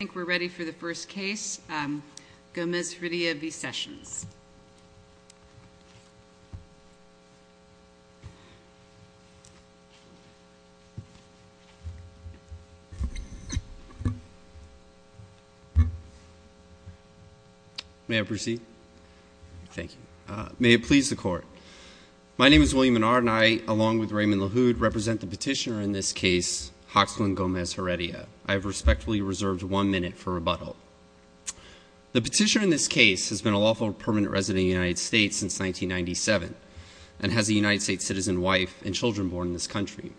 I think we're ready for the first case, Gomez-Heredia v. Sessions. May I proceed? Thank you. May it please the Court. My name is William Menard and I, along with Raymond LaHood, represent the petitioner in this case, Hoxland Gomez-Heredia. I have respectfully reserved one minute for rebuttal. The petitioner in this case has been a lawful permanent resident of the United States since 1997 and has a United States citizen wife and children born in this country.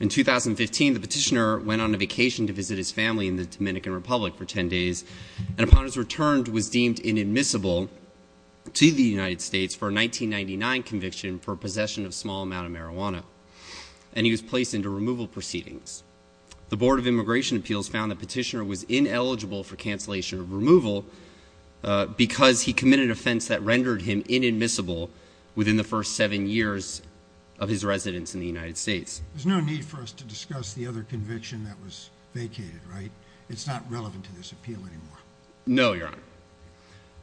In 2015, the petitioner went on a vacation to visit his family in the Dominican Republic for 10 days and upon his return was deemed inadmissible to the United States for a 1999 conviction for possession of a small amount of marijuana and he was placed into removal proceedings. The Board of Immigration Appeals found the petitioner was ineligible for cancellation of removal because he committed an offense that rendered him inadmissible within the first seven years of his residence in the United States. There's no need for us to discuss the other conviction that was vacated, right? It's not relevant to this appeal anymore. No, Your Honor.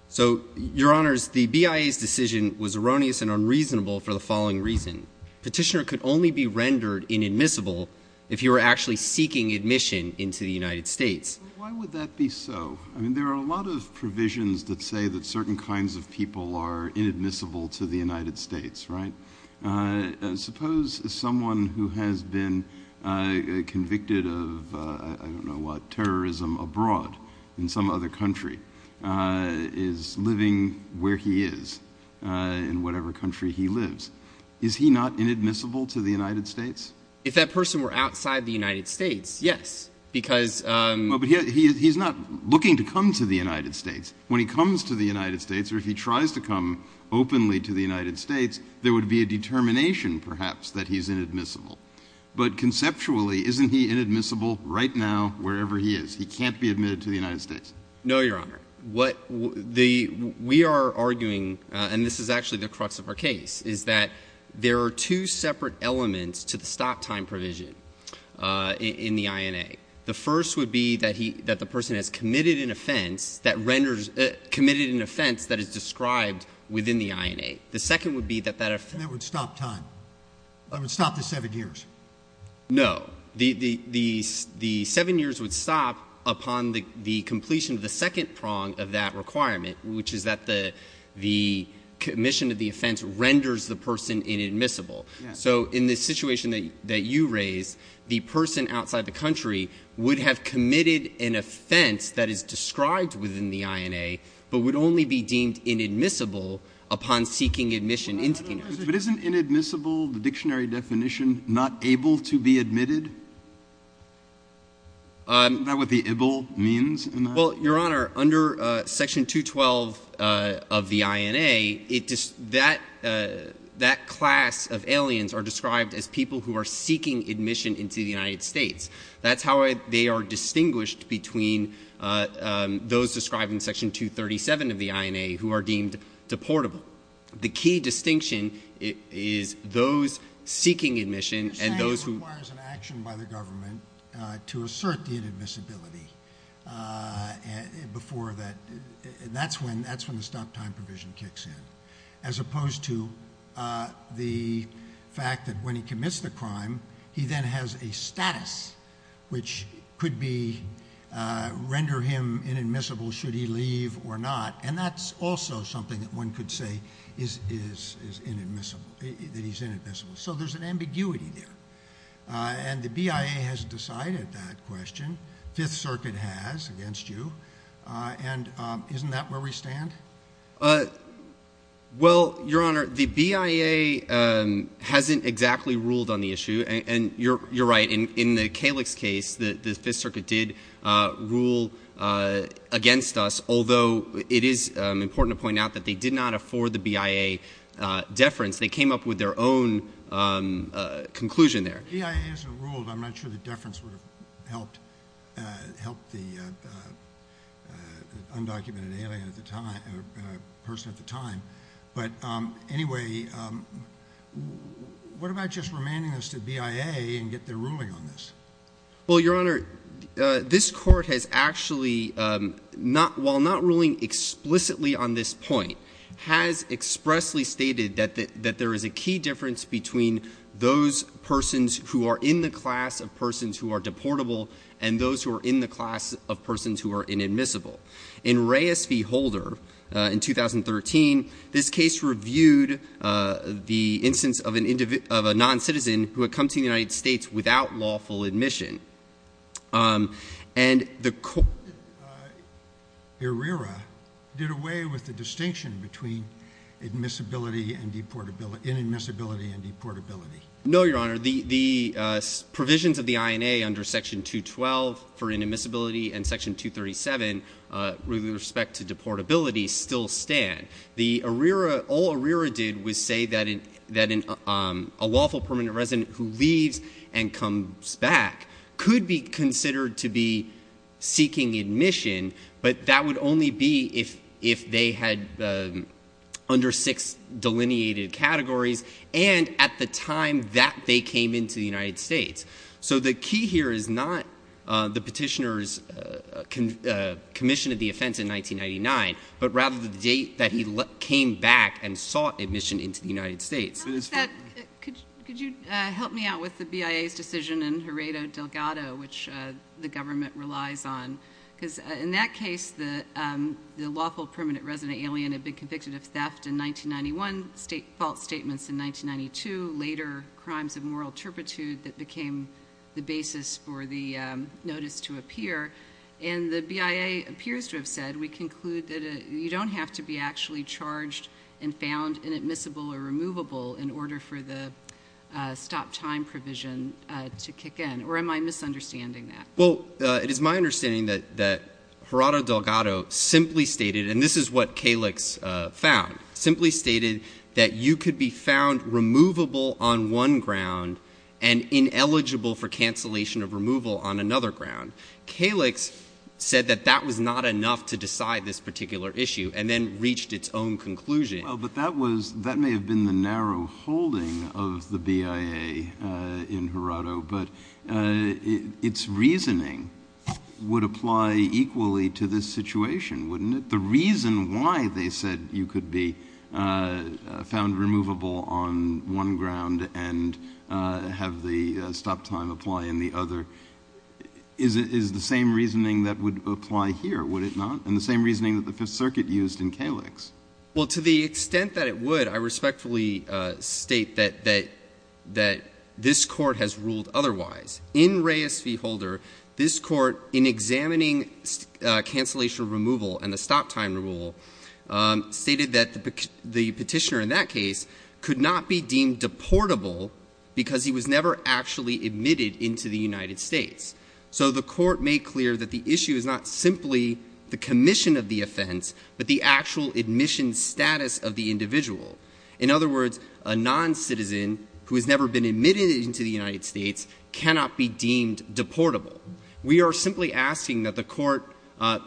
So, Your Honors, the BIA's decision was erroneous and unreasonable for the following reason. Petitioner could only be rendered inadmissible if he were actually seeking admission into the United States. Why would that be so? I mean, there are a lot of provisions that say that certain kinds of people are inadmissible to the United States, right? Suppose someone who has been convicted of, I don't know what, terrorism abroad in some other country is living where he is in whatever country he lives. Is he not inadmissible to the United States? If that person were outside the United States, yes. But he's not looking to come to the United States. When he comes to the United States or if he tries to come openly to the United States, there would be a determination, perhaps, that he's inadmissible. But conceptually, isn't he inadmissible right now wherever he is? He can't be admitted to the United States. No, Your Honor. What we are arguing, and this is actually the crux of our case, is that there are two separate elements to the stop time provision in the INA. The first would be that the person has committed an offense that is described within the INA. The second would be that that offense— And that would stop time. It would stop the seven years. No. The seven years would stop upon the completion of the second prong of that requirement, which is that the commission of the offense renders the person inadmissible. So in the situation that you raised, the person outside the country would have committed an offense that is described within the INA but would only be deemed inadmissible upon seeking admission into the United States. But isn't inadmissible, the dictionary definition, not able to be admitted? Isn't that what the IBL means in that? Well, Your Honor, under Section 212 of the INA, that class of aliens are described as people who are seeking admission into the United States. That's how they are distinguished between those described in Section 237 of the INA who are deemed deportable. So the key distinction is those seeking admission and those who— Say requires an action by the government to assert the inadmissibility before that. That's when the stop-time provision kicks in, as opposed to the fact that when he commits the crime, he then has a status which could render him inadmissible should he leave or not. And that's also something that one could say is inadmissible, that he's inadmissible. So there's an ambiguity there. And the BIA has decided that question. Fifth Circuit has against you. And isn't that where we stand? Well, Your Honor, the BIA hasn't exactly ruled on the issue. And you're right. In the Kalix case, the Fifth Circuit did rule against us, although it is important to point out that they did not afford the BIA deference. They came up with their own conclusion there. The BIA hasn't ruled. I'm not sure the deference would have helped the undocumented person at the time. But anyway, what about just remanding this to BIA and get their ruling on this? Well, Your Honor, this Court has actually, while not ruling explicitly on this point, has expressly stated that there is a key difference between those persons who are in the class of persons who are deportable and those who are in the class of persons who are inadmissible. In Reyes v. Holder in 2013, this case reviewed the instance of a noncitizen who had come to the United States without lawful admission. And the court— Arrera did away with the distinction between inadmissibility and deportability. No, Your Honor. The provisions of the INA under Section 212 for inadmissibility and Section 237 with respect to deportability still stand. All Arrera did was say that a lawful permanent resident who leaves and comes back could be considered to be seeking admission, but that would only be if they had under six delineated categories and at the time that they came into the United States. So the key here is not the petitioner's commission of the offense in 1999, but rather the date that he came back and sought admission into the United States. How does that—could you help me out with the BIA's decision in Heredo Delgado, which the government relies on? Because in that case, the lawful permanent resident alien had been convicted of theft in 1991, state fault statements in 1992, later crimes of moral turpitude that became the basis for the notice to appear. And the BIA appears to have said, we conclude that you don't have to be actually charged and found inadmissible or removable in order for the stop time provision to kick in. Or am I misunderstanding that? Well, it is my understanding that Heredo Delgado simply stated, and this is what Kalix found, simply stated that you could be found removable on one ground and ineligible for cancellation of removal on another ground. Kalix said that that was not enough to decide this particular issue and then reached its own conclusion. Well, but that was—that may have been the narrow holding of the BIA in Heredo, but its reasoning would apply equally to this situation, wouldn't it? The reason why they said you could be found removable on one ground and have the stop time apply in the other is the same reasoning that would apply here, would it not? And the same reasoning that the Fifth Circuit used in Kalix. Well, to the extent that it would, I respectfully state that this Court has ruled otherwise. In Reyes v. Holder, this Court, in examining cancellation of removal and the stop time rule, stated that the Petitioner in that case could not be deemed deportable because he was never actually admitted into the United States. So the Court made clear that the issue is not simply the commission of the offense, but the actual admission status of the individual. In other words, a noncitizen who has never been admitted into the United States cannot be deemed deportable. We are simply asking that the Court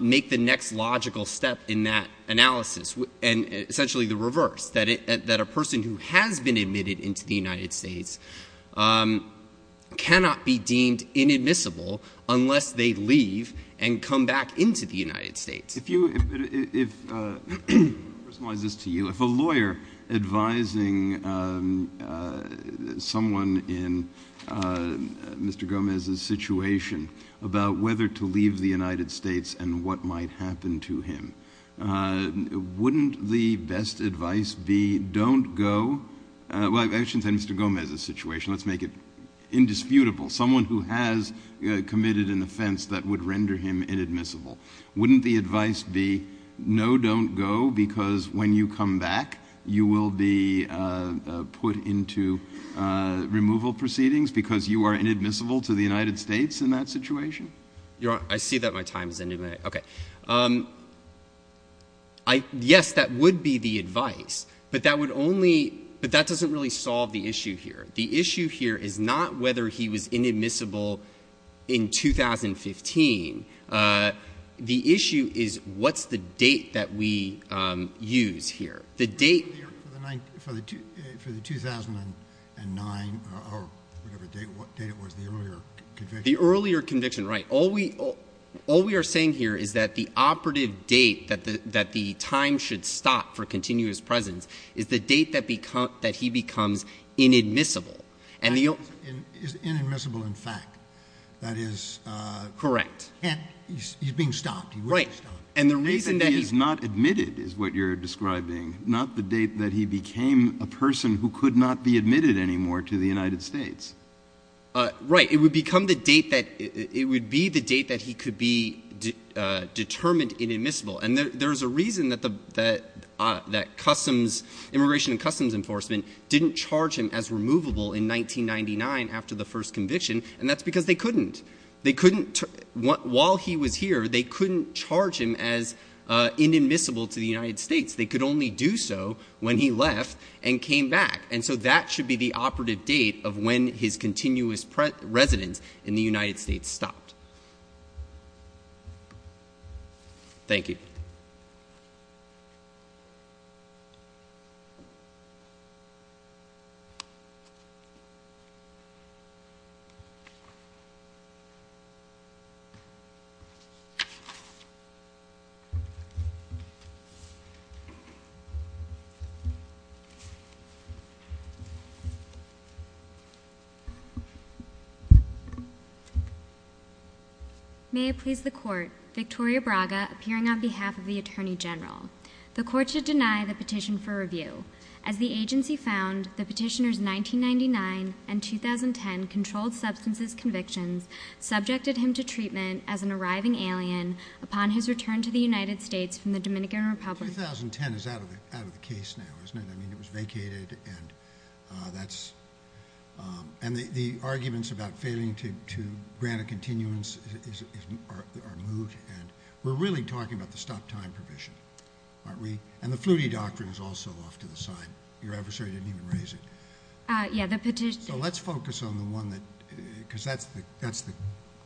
make the next logical step in that analysis, and essentially the reverse, that a person who has been admitted into the United States cannot be deemed inadmissible unless they leave and come back into the United States. If a lawyer advising someone in Mr. Gomez's situation about whether to leave the United States and what might happen to him, wouldn't the best advice be don't go? Well, I shouldn't say Mr. Gomez's situation. Let's make it indisputable. Someone who has committed an offense that would render him inadmissible. Wouldn't the advice be no, don't go, because when you come back, you will be put into removal proceedings because you are inadmissible to the United States in that situation? Your Honor, I see that my time is ending. Okay. Yes, that would be the advice, but that doesn't really solve the issue here. The issue here is not whether he was inadmissible in 2015. The issue is what's the date that we use here. The date for the 2009 or whatever date it was, the earlier conviction. The earlier conviction, right. All we are saying here is that the operative date that the time should stop for continuous presence is the date that he becomes inadmissible. Is inadmissible in fact. That is correct. He's being stopped. Right. And the reason that he is not admitted is what you're describing, not the date that he became a person who could not be admitted anymore to the United States. Right. It would become the date that it would be the date that he could be determined inadmissible. And there's a reason that Immigration and Customs Enforcement didn't charge him as removable in 1999 after the first conviction, and that's because they couldn't. While he was here, they couldn't charge him as inadmissible to the United States. They could only do so when he left and came back. And so that should be the operative date of when his continuous residence in the United States stopped. Thank you. May it please the Court. Victoria Braga, appearing on behalf of the Attorney General. The Court should deny the petition for review. As the agency found, the petitioners' 1999 and 2010 controlled substances convictions subjected him to treatment as an arriving alien upon his return to the United States from the Dominican Republic. 2010 is out of the case now, isn't it? I mean, it was vacated, and that's – and the arguments about failing to grant a continuance are moved. And we're really talking about the stop-time provision, aren't we? And the Flutie doctrine is also off to the side. Your adversary didn't even raise it. Yeah, the petition – So let's focus on the one that – because that's the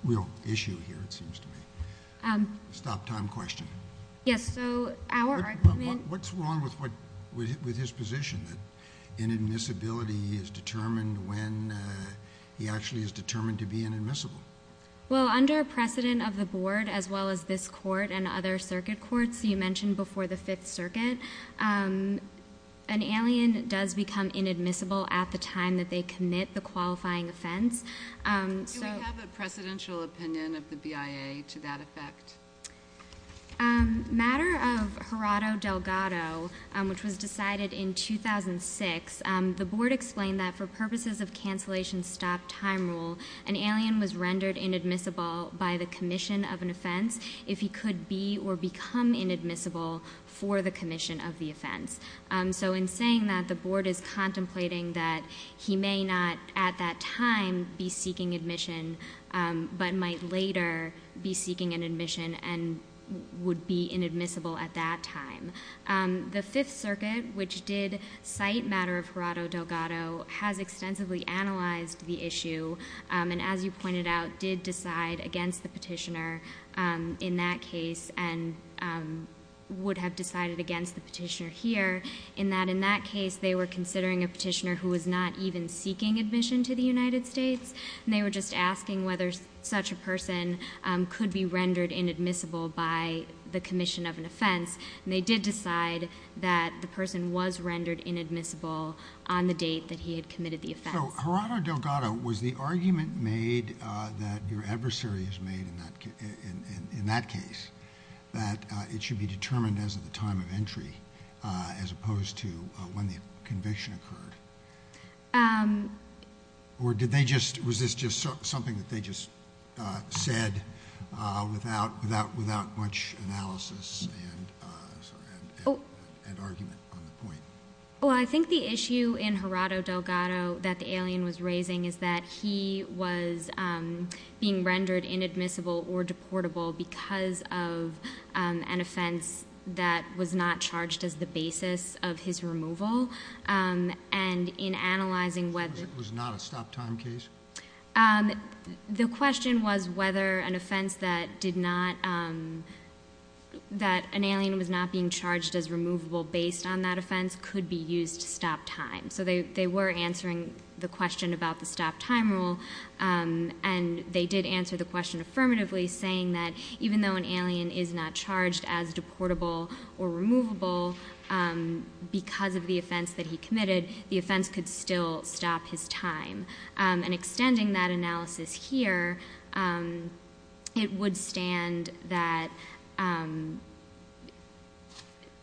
real issue here, it seems to me. Stop-time question. Yes, so our argument – What's wrong with his position that inadmissibility is determined when he actually is determined to be inadmissible? Well, under precedent of the Board, as well as this Court and other circuit courts you mentioned before the Fifth Circuit, an alien does become inadmissible at the time that they commit the qualifying offense. Do we have a precedential opinion of the BIA to that effect? Matter of Gerardo Delgado, which was decided in 2006, the Board explained that for purposes of cancellation stop-time rule, an alien was rendered inadmissible by the commission of an offense if he could be or become inadmissible for the commission of the offense. So in saying that, the Board is contemplating that he may not at that time be seeking admission but might later be seeking an admission and would be inadmissible at that time. The Fifth Circuit, which did cite Matter of Gerardo Delgado, has extensively analyzed the issue and, as you pointed out, did decide against the petitioner in that case and would have decided against the petitioner here in that, in that case, they were considering a petitioner who was not even seeking admission to the United States and they were just asking whether such a person could be rendered inadmissible by the commission of an offense and they did decide that the person was rendered inadmissible on the date that he had committed the offense. So, Gerardo Delgado, was the argument made that your adversary has made in that case that it should be determined as of the time of entry as opposed to when the conviction occurred? Or did they just, was this just something that they just said without much analysis and argument on the point? Well, I think the issue in Gerardo Delgado that the alien was raising is that he was being rendered inadmissible or deportable because of an offense that was not charged as the basis of his removal and in analyzing whether... Was it not a stop time case? The question was whether an offense that did not, that an alien was not being charged as removable based on that offense could be used to stop time. So they were answering the question about the stop time rule and they did answer the question affirmatively saying that even though an alien is not charged as deportable or removable because of the offense that he committed, the offense could still stop his time. And extending that analysis here, it would stand that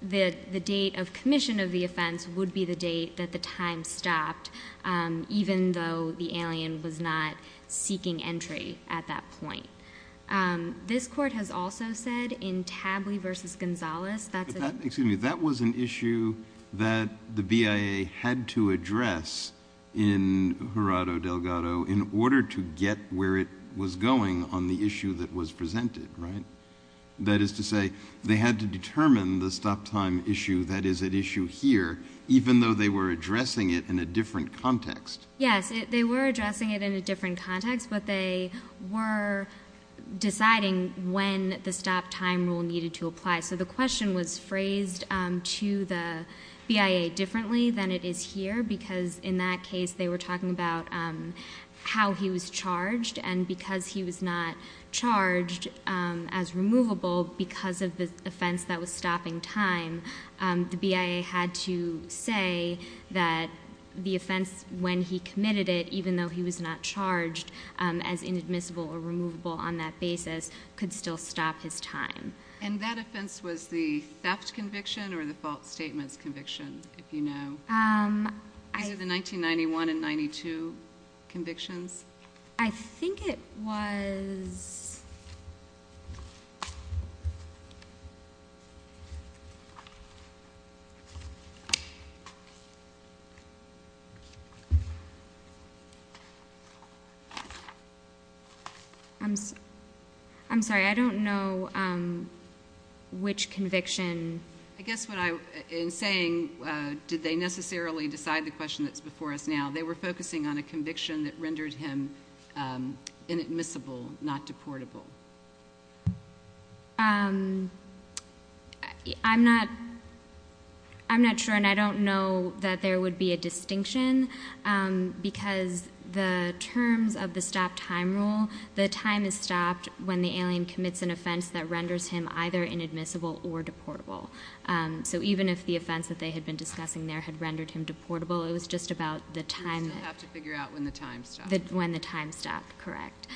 the date of commission of the offense would be the date that the time stopped even though the alien was not seeking entry at that point. This court has also said in Tably v. Gonzalez that... Excuse me, that was an issue that the BIA had to address in Gerardo Delgado in order to get where it was going on the issue that was presented, right? That is to say, they had to determine the stop time issue that is at issue here even though they were addressing it in a different context. Yes, they were addressing it in a different context, but they were deciding when the stop time rule needed to apply. So the question was phrased to the BIA differently than it is here because in that case they were talking about how he was charged and because he was not charged as removable because of the offense that was stopping time, the BIA had to say that the offense when he committed it, even though he was not charged as inadmissible or removable on that basis, could still stop his time. And that offense was the theft conviction or the fault statements conviction, if you know? These are the 1991 and 92 convictions. I think it was... I'm sorry. I don't know which conviction. I guess what I'm saying, did they necessarily decide the question that's before us now? They were focusing on a conviction that rendered him inadmissible, not deportable. I'm not sure, and I don't know that there would be a distinction because the terms of the stop time rule, the time is stopped when the alien commits an offense that renders him either inadmissible or deportable. So even if the offense that they had been discussing there had rendered him deportable, it was just about the time. You still have to figure out when the time stopped. When the time stopped, correct.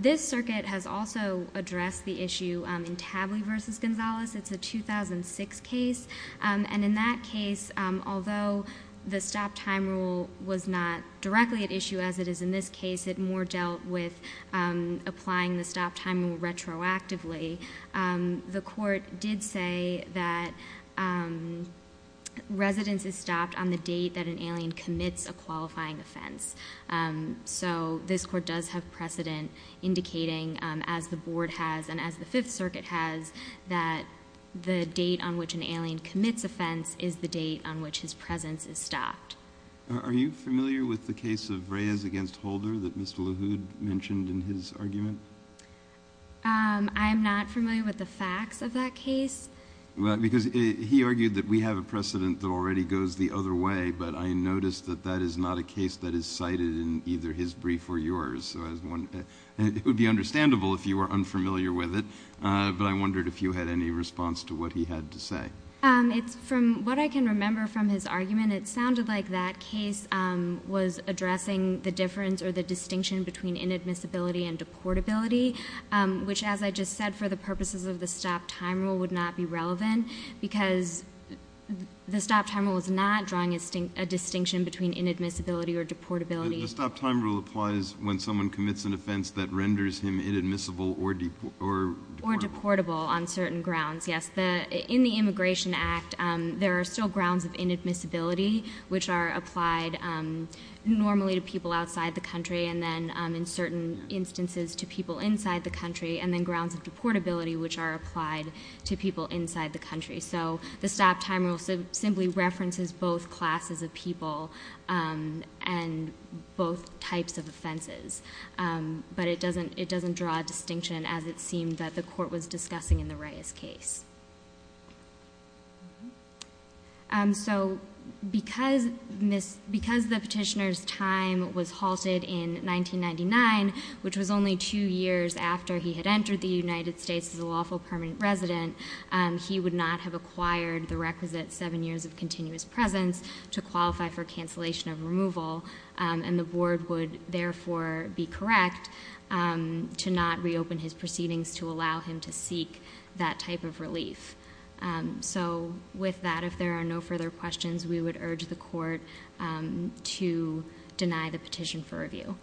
This circuit has also addressed the issue in Tably v. Gonzalez. It's a 2006 case. And in that case, although the stop time rule was not directly at issue as it is in this case, it more dealt with applying the stop time rule retroactively. The court did say that residence is stopped on the date that an alien commits a qualifying offense. So this court does have precedent indicating, as the Board has and as the Fifth Circuit has, that the date on which an alien commits offense is the date on which his presence is stopped. Are you familiar with the case of Reyes v. Holder that Mr. LaHood mentioned in his argument? I am not familiar with the facts of that case. Because he argued that we have a precedent that already goes the other way, but I noticed that that is not a case that is cited in either his brief or yours. It would be understandable if you were unfamiliar with it, but I wondered if you had any response to what he had to say. From what I can remember from his argument, it sounded like that case was addressing the difference or the distinction between inadmissibility and deportability, which, as I just said, for the purposes of the stop time rule would not be relevant because the stop time rule is not drawing a distinction between inadmissibility or deportability. The stop time rule applies when someone commits an offense that renders him inadmissible or deportable. Or deportable on certain grounds, yes. In the Immigration Act, there are still grounds of inadmissibility, which are applied normally to people outside the country and then in certain instances to people inside the country, and then grounds of deportability, which are applied to people inside the country. So the stop time rule simply references both classes of people and both types of offenses, but it doesn't draw a distinction as it seemed that the court was discussing in the Reyes case. Because the petitioner's time was halted in 1999, which was only two years after he had entered the United States as a lawful permanent resident, he would not have acquired the requisite seven years of continuous presence to qualify for cancellation of removal, and the board would therefore be correct to not reopen his proceedings to allow him to seek that type of relief. So with that, if there are no further questions, we would urge the court to deny the petition for review.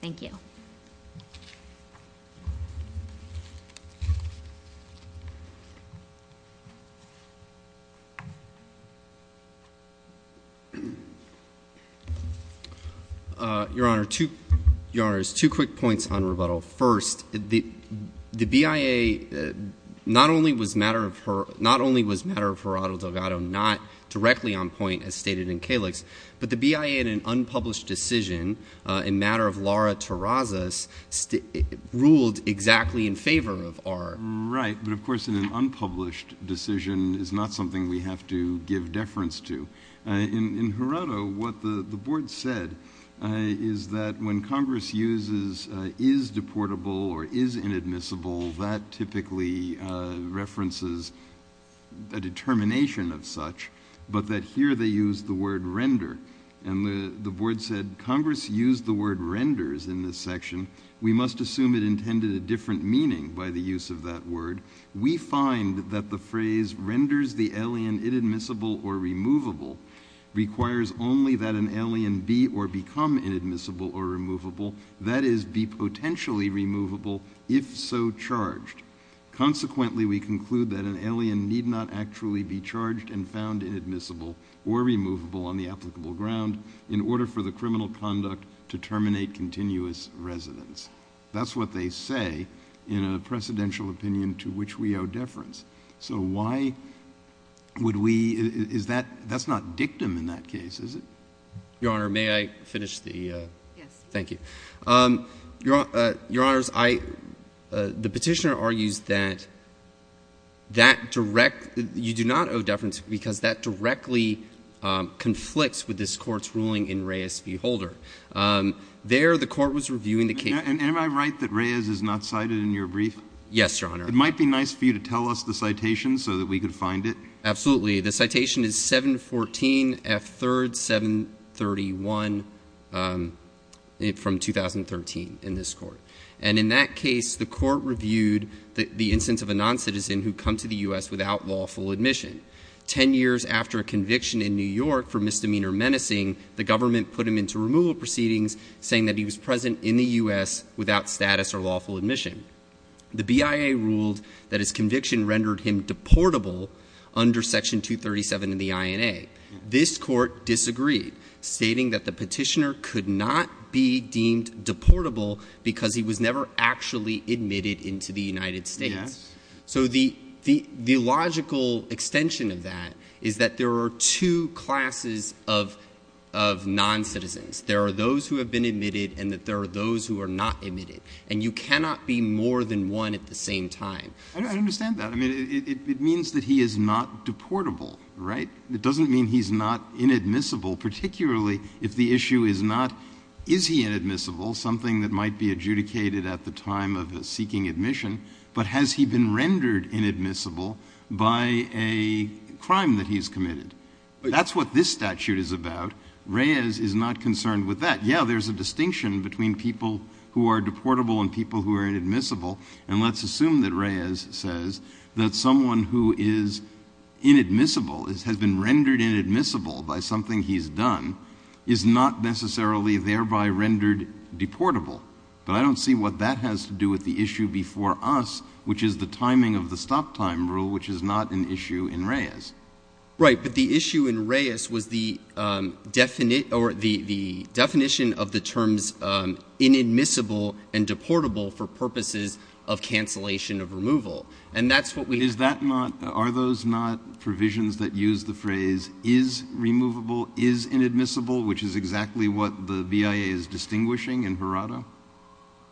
Thank you. Your Honor, two quick points on rebuttal. First, the BIA not only was Matter of Geraldo Delgado not directly on point as stated in Kalix, but the BIA in an unpublished decision in Matter of Laura Terrazas ruled exactly in favor of R. Right, but of course in an unpublished decision is not something we have to give deference to. In Geraldo, what the board said is that when Congress uses is deportable or is inadmissible, that typically references a determination of such, but that here they use the word render, and the board said Congress used the word renders in this section. We must assume it intended a different meaning by the use of that word. We find that the phrase renders the alien inadmissible or removable requires only that an alien be or become inadmissible or removable, that is, be potentially removable if so charged. Consequently, we conclude that an alien need not actually be charged and found inadmissible or removable on the applicable ground in order for the criminal conduct to terminate continuous residence. That's what they say in a precedential opinion to which we owe deference. So why would we, is that, that's not dictum in that case, is it? Your Honor, may I finish the, thank you. Your Honors, I, the petitioner argues that that direct, you do not owe deference because that directly conflicts with this court's ruling in Reyes v. Holder. There the court was reviewing the case. Am I right that Reyes is not cited in your brief? Yes, Your Honor. It might be nice for you to tell us the citation so that we could find it. Absolutely. The citation is 714 F. 3rd 731 from 2013 in this court. And in that case, the court reviewed the instance of a noncitizen who'd come to the U.S. without lawful admission. Ten years after a conviction in New York for misdemeanor menacing, the government put him into removal proceedings saying that he was present in the U.S. without status or lawful admission. The BIA ruled that his conviction rendered him deportable under Section 237 in the INA. This court disagreed, stating that the petitioner could not be deemed deportable because he was never actually admitted into the United States. Yes. So the, the, the logical extension of that is that there are two classes of, of noncitizens. There are those who have been admitted and that there are those who are not admitted. And you cannot be more than one at the same time. I, I understand that. I mean, it, it means that he is not deportable, right? It doesn't mean he's not inadmissible, particularly if the issue is not, is he inadmissible, something that might be adjudicated at the time of a seeking admission, but has he been rendered inadmissible by a crime that he's committed? That's what this statute is about. Reyes is not concerned with that. Yeah, there's a distinction between people who are deportable and people who are inadmissible. And let's assume that Reyes says that someone who is inadmissible, has been rendered inadmissible by something he's done, is not necessarily thereby rendered deportable. But I don't see what that has to do with the issue before us, which is the timing of the stop time rule, which is not an issue in Reyes. Right. But the issue in Reyes was the definition of the terms inadmissible and deportable for purposes of cancellation of removal. And that's what we have. Is that not, are those not provisions that use the phrase is removable, is inadmissible, which is exactly what the BIA is distinguishing in Verrata?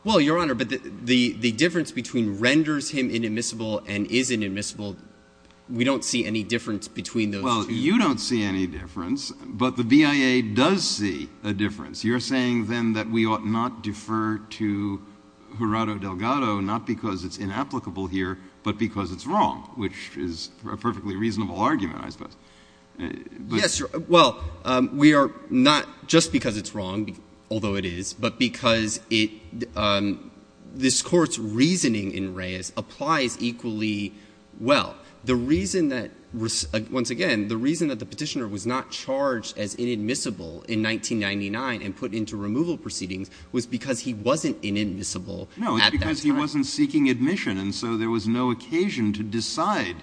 Well, Your Honor, but the difference between renders him inadmissible and is inadmissible, we don't see any difference between those two. Well, you don't see any difference, but the BIA does see a difference. You're saying then that we ought not defer to Jurado Delgado, not because it's inapplicable here, but because it's wrong, which is a perfectly reasonable argument, I suppose. Yes, well, we are not just because it's wrong, although it is, but because it, this Court's reasoning in Reyes applies equally well. The reason that, once again, the reason that the Petitioner was not charged as inadmissible in 1999 and put into removal proceedings was because he wasn't inadmissible at that time. No. It's because he wasn't seeking admission, and so there was no occasion to decide,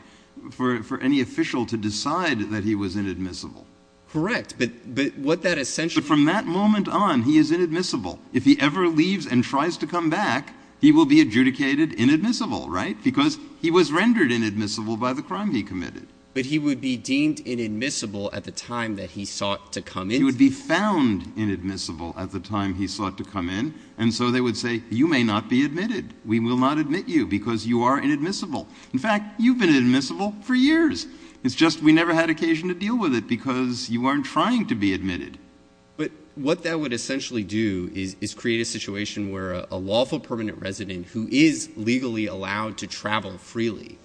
for any official to decide that he was inadmissible. Correct. But what that essentially means. So from that moment on, he is inadmissible. If he ever leaves and tries to come back, he will be adjudicated inadmissible, right? Because he was rendered inadmissible by the crime he committed. But he would be deemed inadmissible at the time that he sought to come in. He would be found inadmissible at the time he sought to come in, and so they would say, you may not be admitted. We will not admit you because you are inadmissible. In fact, you've been inadmissible for years. It's just we never had occasion to deal with it because you weren't trying to be admitted. But what that would essentially do is create a situation where a lawful permanent resident who is legally allowed to travel freely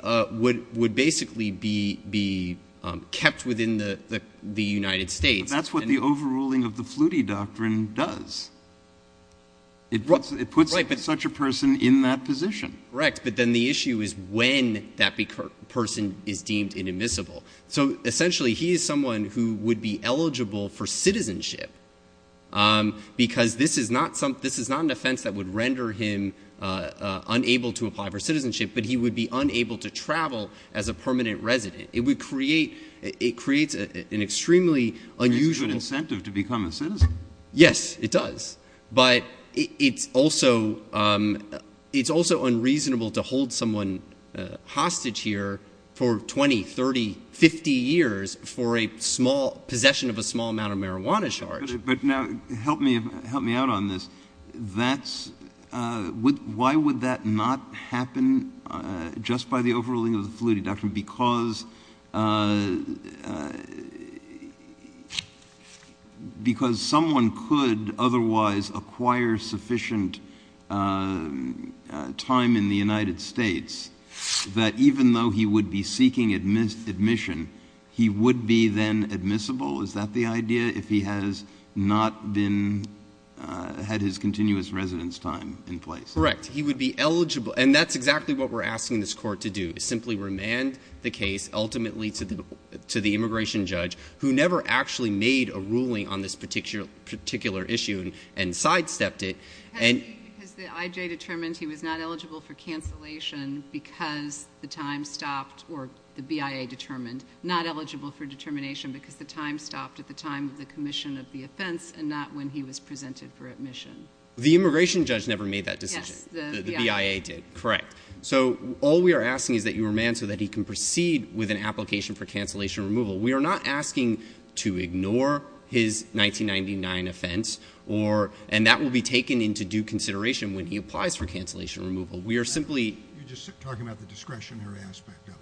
would basically be kept within the United States. That's what the overruling of the Flutie doctrine does. It puts such a person in that position. Correct. But then the issue is when that person is deemed inadmissible. So essentially, he is someone who would be eligible for citizenship because this is not an offense that would render him unable to apply for citizenship, but he would be unable to travel as a permanent resident. It creates an extremely unusual— It's a good incentive to become a citizen. Yes, it does. But it's also unreasonable to hold someone hostage here for 20, 30, 50 years for a small— possession of a small amount of marijuana charge. But now help me out on this. That's—why would that not happen just by the overruling of the Flutie doctrine? Because someone could otherwise acquire sufficient time in the United States that even though he would be seeking admission, he would be then admissible? Is that the idea, if he has not been—had his continuous residence time in place? Correct. He would be eligible. And that's exactly what we're asking this court to do is simply remand the case ultimately to the immigration judge who never actually made a ruling on this particular issue and sidestepped it. Has the IJ determined he was not eligible for cancellation because the time stopped or the BIA determined not eligible for determination because the time stopped at the time of the commission of the offense and not when he was presented for admission? The immigration judge never made that decision. The BIA did. The BIA did, correct. So all we are asking is that you remand so that he can proceed with an application for cancellation removal. We are not asking to ignore his 1999 offense or—and that will be taken into due consideration when he applies for cancellation removal. We are simply— You're just talking about the discretionary aspect of it.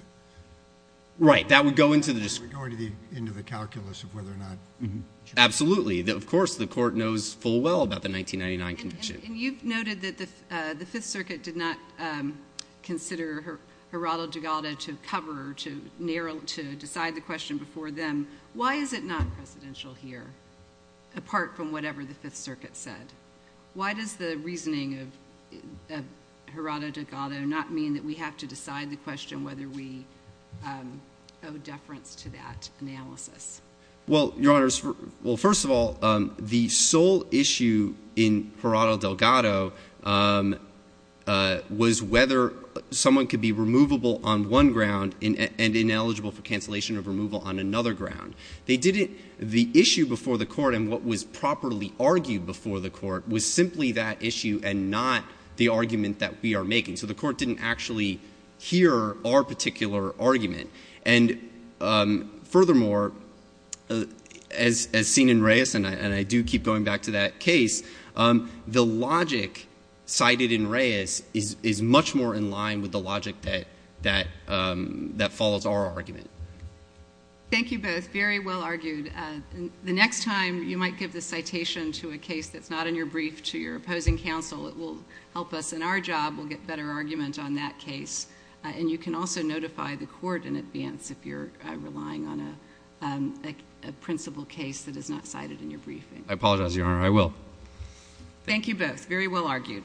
Right. That would go into the— That would go into the calculus of whether or not— Absolutely. Of course, the court knows full well about the 1999 conviction. And you've noted that the Fifth Circuit did not consider Gerardo Degado to cover or to narrow— to decide the question before them. Why is it not presidential here apart from whatever the Fifth Circuit said? Why does the reasoning of Gerardo Degado not mean that we have to decide the question whether we owe deference to that analysis? Well, Your Honors, well, first of all, the sole issue in Gerardo Degado was whether someone could be removable on one ground and ineligible for cancellation of removal on another ground. They didn't—the issue before the court and what was properly argued before the court was simply that issue and not the argument that we are making. So the court didn't actually hear our particular argument. And furthermore, as seen in Reyes, and I do keep going back to that case, the logic cited in Reyes is much more in line with the logic that follows our argument. Thank you both. Very well argued. The next time you might give the citation to a case that's not in your brief to your opposing counsel, it will help us in our job. We'll get better argument on that case. And you can also notify the court in advance if you're relying on a principal case that is not cited in your briefing. I apologize, Your Honor. I will. Thank you both. Very well argued.